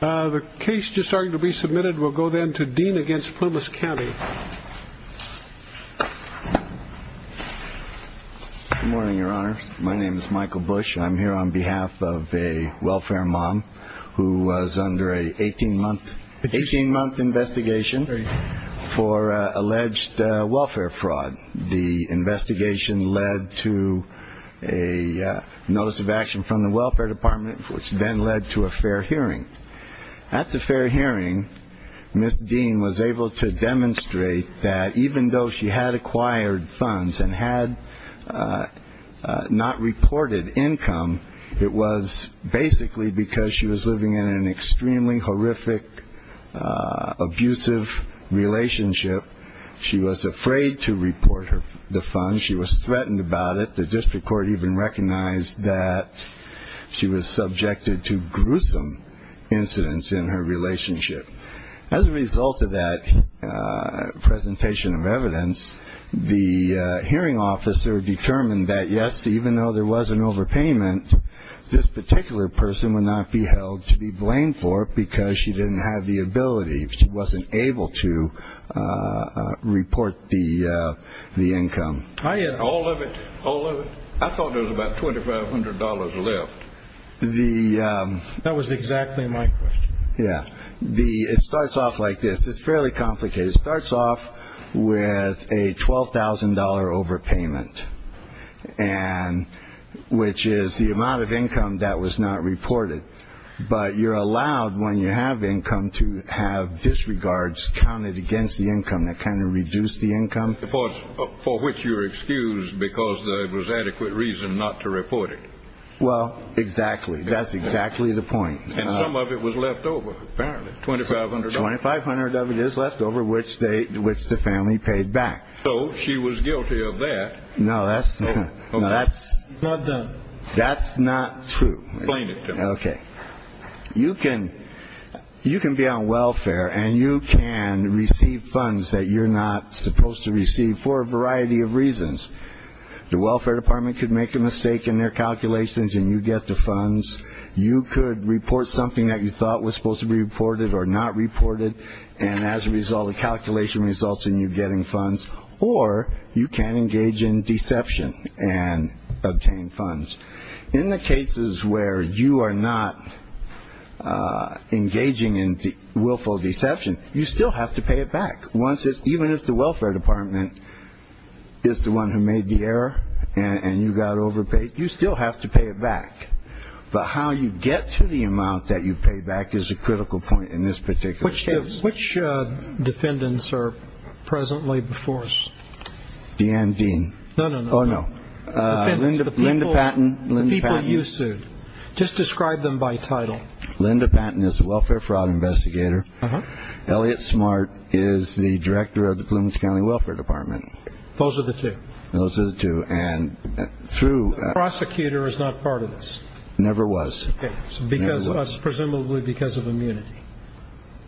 The case just starting to be submitted will go then to Deane v. Plumas County. Good morning, Your Honor. My name is Michael Bush. I'm here on behalf of a welfare mom who was under an 18-month investigation for alleged welfare fraud. The investigation led to a notice of action from the welfare department, which then led to a fair hearing. At the fair hearing, Ms. Deane was able to demonstrate that even though she had acquired funds and had not reported income, it was basically because she was living in an extremely horrific, abusive relationship. She was afraid to report the funds. She was threatened about it. The district court even recognized that she was subjected to gruesome incidents in her relationship. As a result of that presentation of evidence, the hearing officer determined that, yes, even though there was an overpayment, this particular person would not be held to be blamed for it because she didn't have the ability. She wasn't able to report the income. I thought there was about $2,500 left. That was exactly my question. Yeah. It starts off like this. It's fairly complicated. It starts off with a $12,000 overpayment, which is the amount of income that was not reported. But you're allowed, when you have income, to have disregards counted against the income. That kind of reduced the income. For which you were excused because there was adequate reason not to report it. Well, exactly. That's exactly the point. And some of it was left over, apparently, $2,500. $2,500 of it is left over, which the family paid back. So she was guilty of that. No, that's not true. Explain it to me. Okay. You can be on welfare and you can receive funds that you're not supposed to receive for a variety of reasons. The welfare department could make a mistake in their calculations and you get the funds. You could report something that you thought was supposed to be reported or not reported. And as a result, the calculation results in you getting funds. Or you can engage in deception and obtain funds. In the cases where you are not engaging in willful deception, you still have to pay it back. Even if the welfare department is the one who made the error and you got overpaid, you still have to pay it back. But how you get to the amount that you pay back is a critical point in this particular case. Which defendants are presently before us? Deanne Dean. No, no, no. Oh, no. Linda Patton. The people you sued. Just describe them by title. Linda Patton is a welfare fraud investigator. Elliot Smart is the director of the Plumas County Welfare Department. Those are the two. Those are the two. And through. Prosecutor is not part of this. Never was because presumably because of immunity.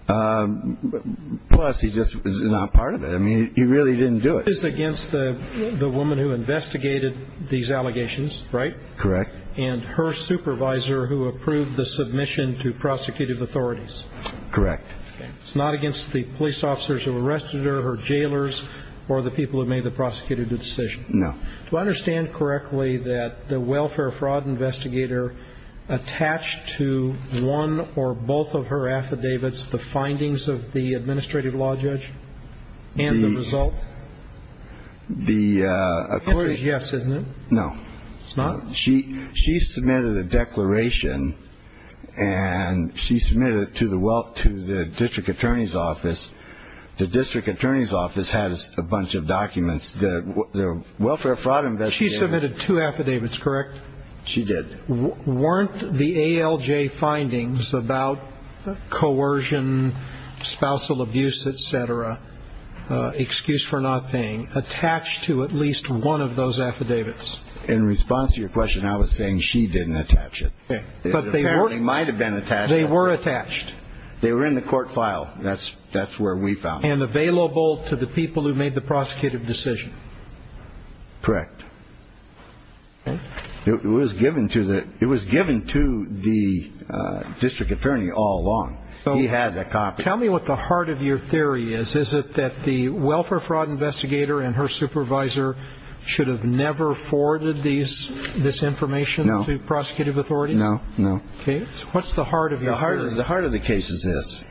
Plus, he just is not part of it. I mean, he really didn't do it. It's against the woman who investigated these allegations. Right. Correct. And her supervisor who approved the submission to prosecutive authorities. Correct. It's not against the police officers who arrested her, her jailers or the people who made the prosecutor decision. No. Do I understand correctly that the welfare fraud investigator attached to one or both of her affidavits, the findings of the administrative law judge and the result? The. Yes, isn't it? No. It's not. She she submitted a declaration and she submitted it to the well to the district attorney's office. The district attorney's office has a bunch of documents. The welfare fraud investigation. She submitted two affidavits. Correct. She did. Weren't the A.L.J. findings about coercion, spousal abuse, et cetera. Excuse for not paying attached to at least one of those affidavits. In response to your question, I was saying she didn't attach it. But they weren't. They might have been attached. They were attached. They were in the court file. That's that's where we found and available to the people who made the prosecutive decision. Correct. It was given to that. It was given to the district attorney all along. So he had a copy. Tell me what the heart of your theory is. Is it that the welfare fraud investigator and her supervisor should have never forwarded these this information to prosecutive authority? No, no. OK. What's the heart of your heart? The heart of the case is this.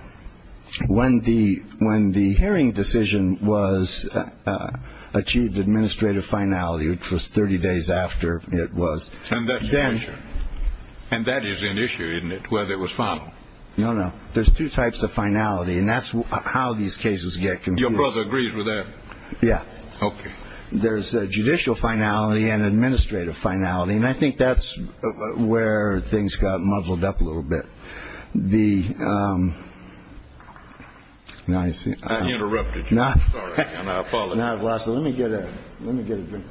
When the when the hearing decision was achieved, administrative finality, which was 30 days after it was. And that's an issue. And that is an issue, isn't it? Whether it was final. No, no. There's two types of finality. And that's how these cases get. Your brother agrees with that. Yeah. OK. There's a judicial finality and administrative finality. And I think that's where things got muddled up a little bit. The. Now, I see. I interrupted. Not. And I apologize. Let me get it. Let me get a drink.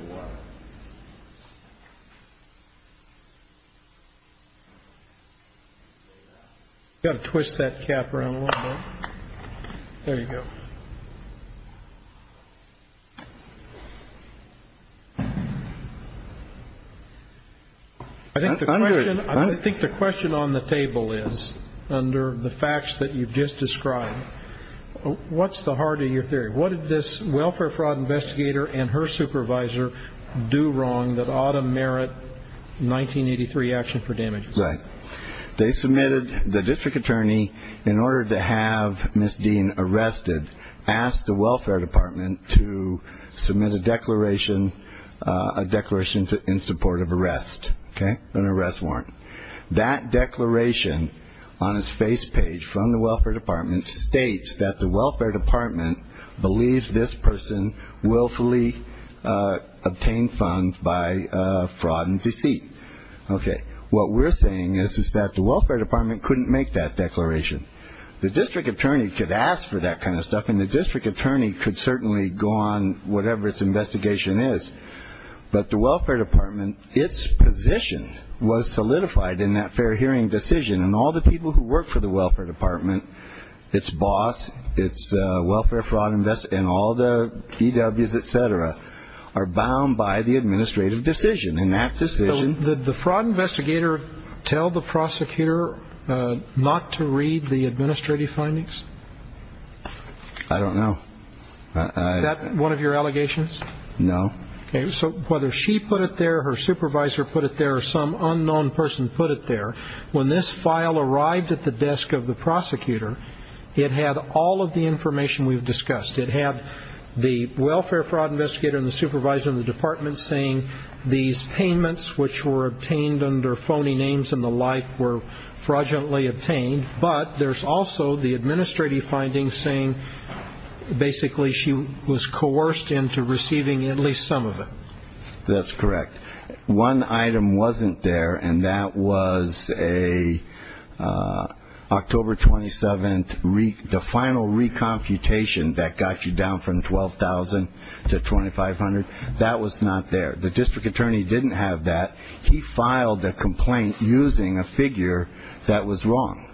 Got to twist that cap around. There you go. I think the question I think the question on the table is under the facts that you've just described, what's the heart of your theory? What did this welfare fraud investigator and her supervisor do wrong that ought to merit 1983 action for damage? Right. They submitted the district attorney in order to have Miss Dean arrested, asked the Welfare Department to submit a declaration. A declaration in support of arrest. An arrest warrant. That declaration on his face page from the Welfare Department states that the Welfare Department believes this person willfully obtained funds by fraud and deceit. OK. What we're saying is, is that the Welfare Department couldn't make that declaration. The district attorney could ask for that kind of stuff. And the district attorney could certainly go on whatever its investigation is. But the Welfare Department, its position was solidified in that fair hearing decision. And all the people who work for the Welfare Department, its boss, its welfare fraud and all the DW's, et cetera, are bound by the administrative decision. Did the fraud investigator tell the prosecutor not to read the administrative findings? I don't know. Is that one of your allegations? No. So whether she put it there, her supervisor put it there, or some unknown person put it there, when this file arrived at the desk of the prosecutor, it had all of the information we've discussed. It had the welfare fraud investigator and the supervisor in the department saying these payments, which were obtained under phony names and the like, were fraudulently obtained. But there's also the administrative findings saying basically she was coerced into receiving at least some of it. That's correct. One item wasn't there, and that was a October 27th, the final recomputation that got you down from $12,000 to $2,500. That was not there. The district attorney didn't have that. He filed the complaint using a figure that was wrong,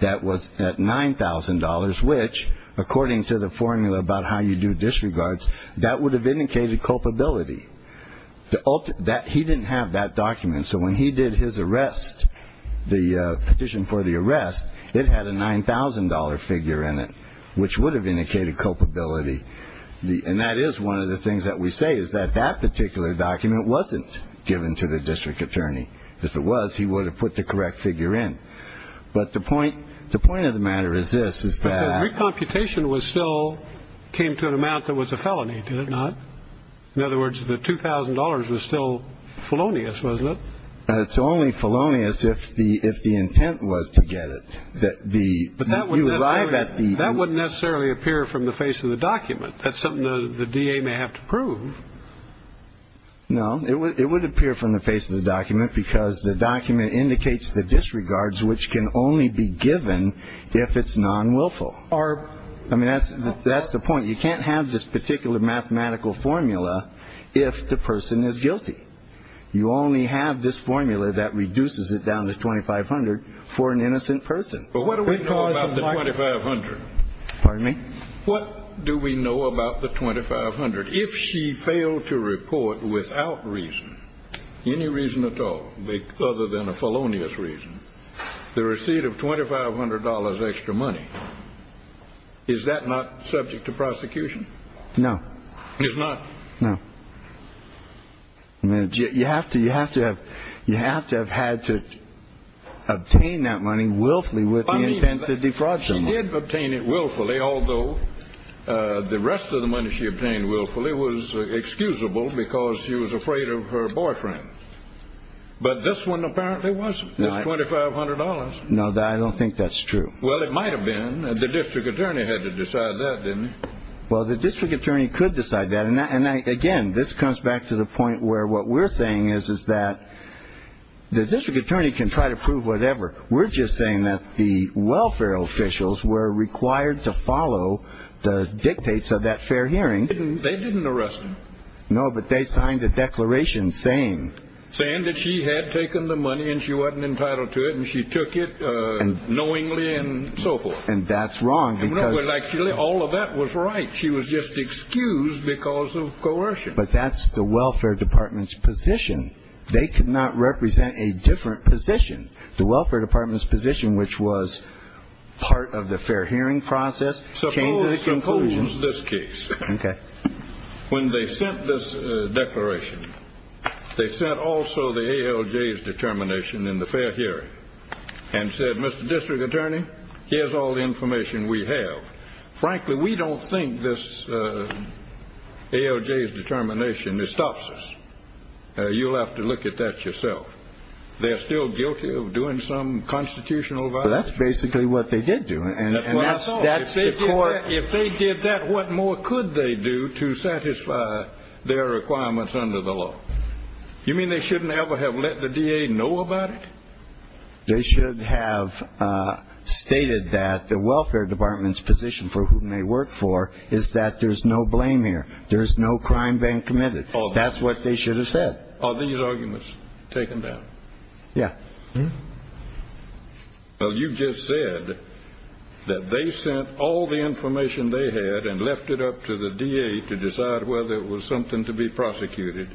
that was at $9,000, which according to the formula about how you do disregards, that would have indicated culpability. He didn't have that document, so when he did his arrest, the petition for the arrest, it had a $9,000 figure in it, which would have indicated culpability. And that is one of the things that we say is that that particular document wasn't given to the district attorney. If it was, he would have put the correct figure in. But the point of the matter is this, is that. The recomputation still came to an amount that was a felony, did it not? In other words, the $2,000 was still felonious, wasn't it? It's only felonious if the intent was to get it. But that wouldn't necessarily appear from the face of the document. That's something the DA may have to prove. No, it would appear from the face of the document because the document indicates the disregards, which can only be given if it's non-willful. I mean, that's the point. You can't have this particular mathematical formula if the person is guilty. You only have this formula that reduces it down to $2,500 for an innocent person. But what do we know about the $2,500? Pardon me? What do we know about the $2,500? If she failed to report without reason, any reason at all other than a felonious reason, the receipt of $2,500 extra money, is that not subject to prosecution? No. It's not? No. You have to have had to obtain that money willfully with the intent to defraud someone. She did obtain it willfully, although the rest of the money she obtained willfully was excusable because she was afraid of her boyfriend. But this one apparently wasn't. It's $2,500. No, I don't think that's true. Well, it might have been. The district attorney had to decide that, didn't he? Well, the district attorney could decide that. And, again, this comes back to the point where what we're saying is that the district attorney can try to prove whatever. We're just saying that the welfare officials were required to follow the dictates of that fair hearing. They didn't arrest her. No, but they signed a declaration saying. Saying that she had taken the money and she wasn't entitled to it and she took it knowingly and so forth. And that's wrong because. No, but actually all of that was right. She was just excused because of coercion. But that's the welfare department's position. They could not represent a different position. The welfare department's position, which was part of the fair hearing process, came to the conclusion. Suppose this case. Okay. When they sent this declaration, they sent also the ALJ's determination in the fair hearing and said, Mr. District Attorney, here's all the information we have. Frankly, we don't think this ALJ's determination stops us. You'll have to look at that yourself. They're still guilty of doing some constitutional violation. That's basically what they did do. If they did that, what more could they do to satisfy their requirements under the law? You mean they shouldn't ever have let the DA know about it? They should have stated that the welfare department's position for whom they work for is that there's no blame here. There's no crime being committed. That's what they should have said. Are these arguments taken down? Yeah. Well, you just said that they sent all the information they had and left it up to the DA to decide whether it was something to be prosecuted,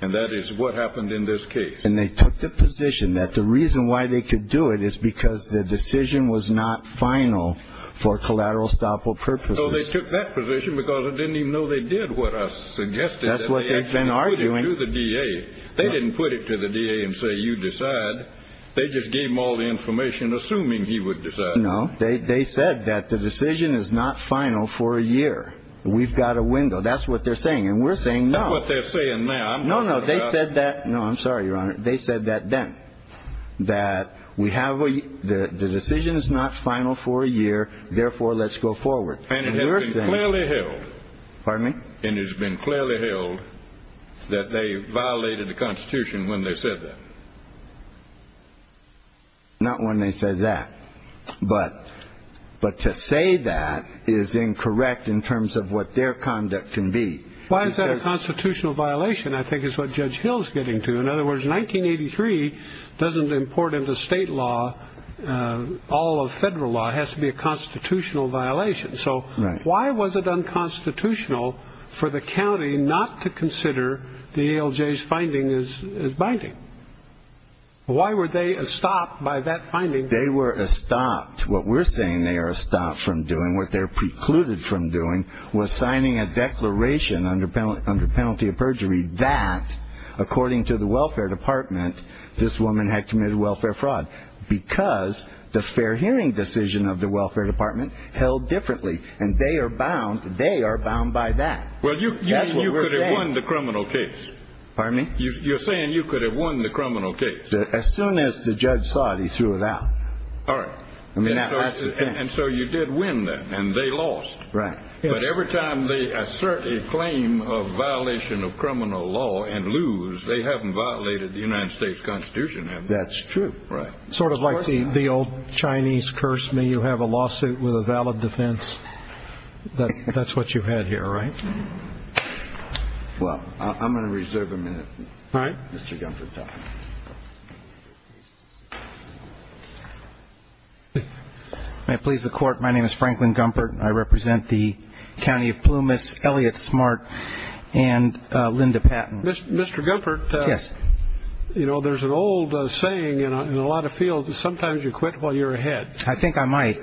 and that is what happened in this case. And they took the position that the reason why they could do it is because the decision was not final for collateral estoppel purposes. So they took that position because they didn't even know they did what I suggested. That's what they've been arguing. They didn't put it to the DA and say, you decide. They just gave him all the information assuming he would decide. No, they said that the decision is not final for a year. We've got a window. That's what they're saying. And we're saying no. That's what they're saying now. No, no, they said that. No, I'm sorry, Your Honor. They said that then, that the decision is not final for a year. Therefore, let's go forward. And it has been clearly held. Pardon me? And it has been clearly held that they violated the Constitution when they said that. Not when they said that. But to say that is incorrect in terms of what their conduct can be. Why is that a constitutional violation, I think, is what Judge Hill is getting to. In other words, 1983 doesn't import into state law all of federal law. It has to be a constitutional violation. So why was it unconstitutional for the county not to consider the ALJ's finding as binding? Why were they stopped by that finding? They were stopped. What we're saying they are stopped from doing, what they're precluded from doing, was signing a declaration under penalty of perjury that, according to the Welfare Department, this woman had committed welfare fraud because the fair hearing decision of the Welfare Department held differently, and they are bound by that. Well, you could have won the criminal case. Pardon me? You're saying you could have won the criminal case. As soon as the judge saw it, he threw it out. All right. I mean, that's the thing. And so you did win that, and they lost. Right. But every time they assert a claim of violation of criminal law and lose, they haven't violated the United States Constitution, have they? That's true. Right. It's sort of like the old Chinese curse. May you have a lawsuit with a valid defense. That's what you had here, right? Well, I'm going to reserve a minute. All right. Mr. Gumpert, talk. May it please the Court, my name is Franklin Gumpert. I represent the county of Plumas, Elliott Smart, and Linda Patton. Mr. Gumpert. Yes. You know, there's an old saying in a lot of fields that sometimes you quit while you're ahead. I think I might.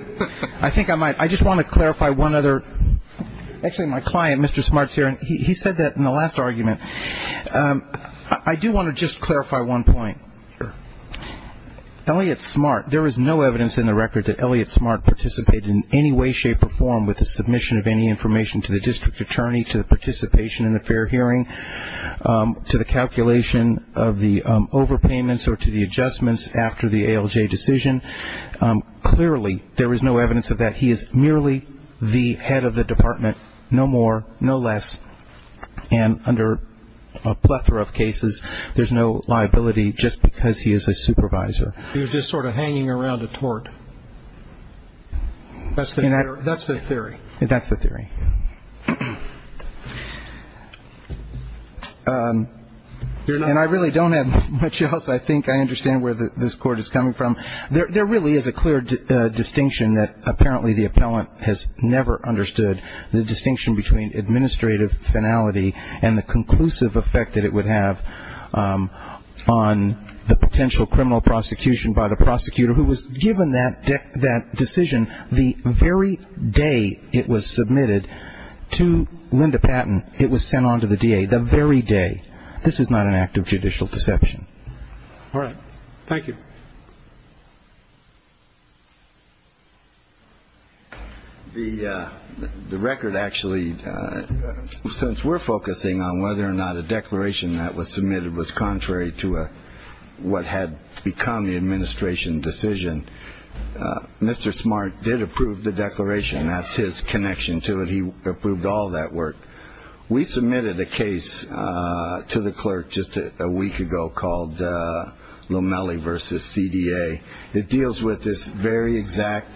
I think I might. I just want to clarify one other. Actually, my client, Mr. Smart, is here, and he said that in the last argument. I do want to just clarify one point. Sure. Elliott Smart, there is no evidence in the record that Elliott Smart participated in any way, shape, or form with the submission of any information to the district attorney, to the participation in the fair hearing, to the calculation of the overpayments, or to the adjustments after the ALJ decision. Clearly, there is no evidence of that. He is merely the head of the department, no more, no less. And under a plethora of cases, there's no liability just because he is a supervisor. He was just sort of hanging around a tort. That's the theory. That's the theory. And I really don't have much else. I think I understand where this Court is coming from. There really is a clear distinction that apparently the appellant has never understood, the distinction between administrative finality and the conclusive effect that it would have on the potential criminal prosecution by the prosecutor who was given that decision the very day it was submitted to Linda Patton. It was sent on to the DA the very day. This is not an act of judicial deception. All right. Thank you. The record actually, since we're focusing on whether or not a declaration that was submitted was contrary to what had become the administration decision, Mr. Smart did approve the declaration. That's his connection to it. He approved all that work. We submitted a case to the clerk just a week ago called Lomelli v. CDA. It deals with this very exact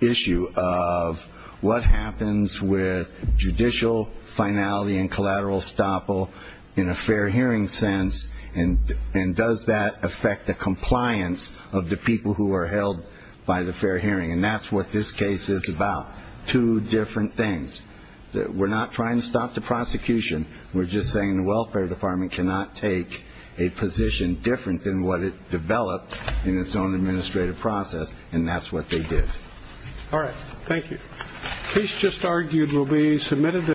issue of what happens with judicial finality and collateral estoppel in a fair hearing sense, and does that affect the compliance of the people who are held by the fair hearing. And that's what this case is about, two different things. We're not trying to stop the prosecution. We're just saying the Welfare Department cannot take a position different than what it developed in its own administrative process, and that's what they did. All right. Thank you. The case just argued will be submitted.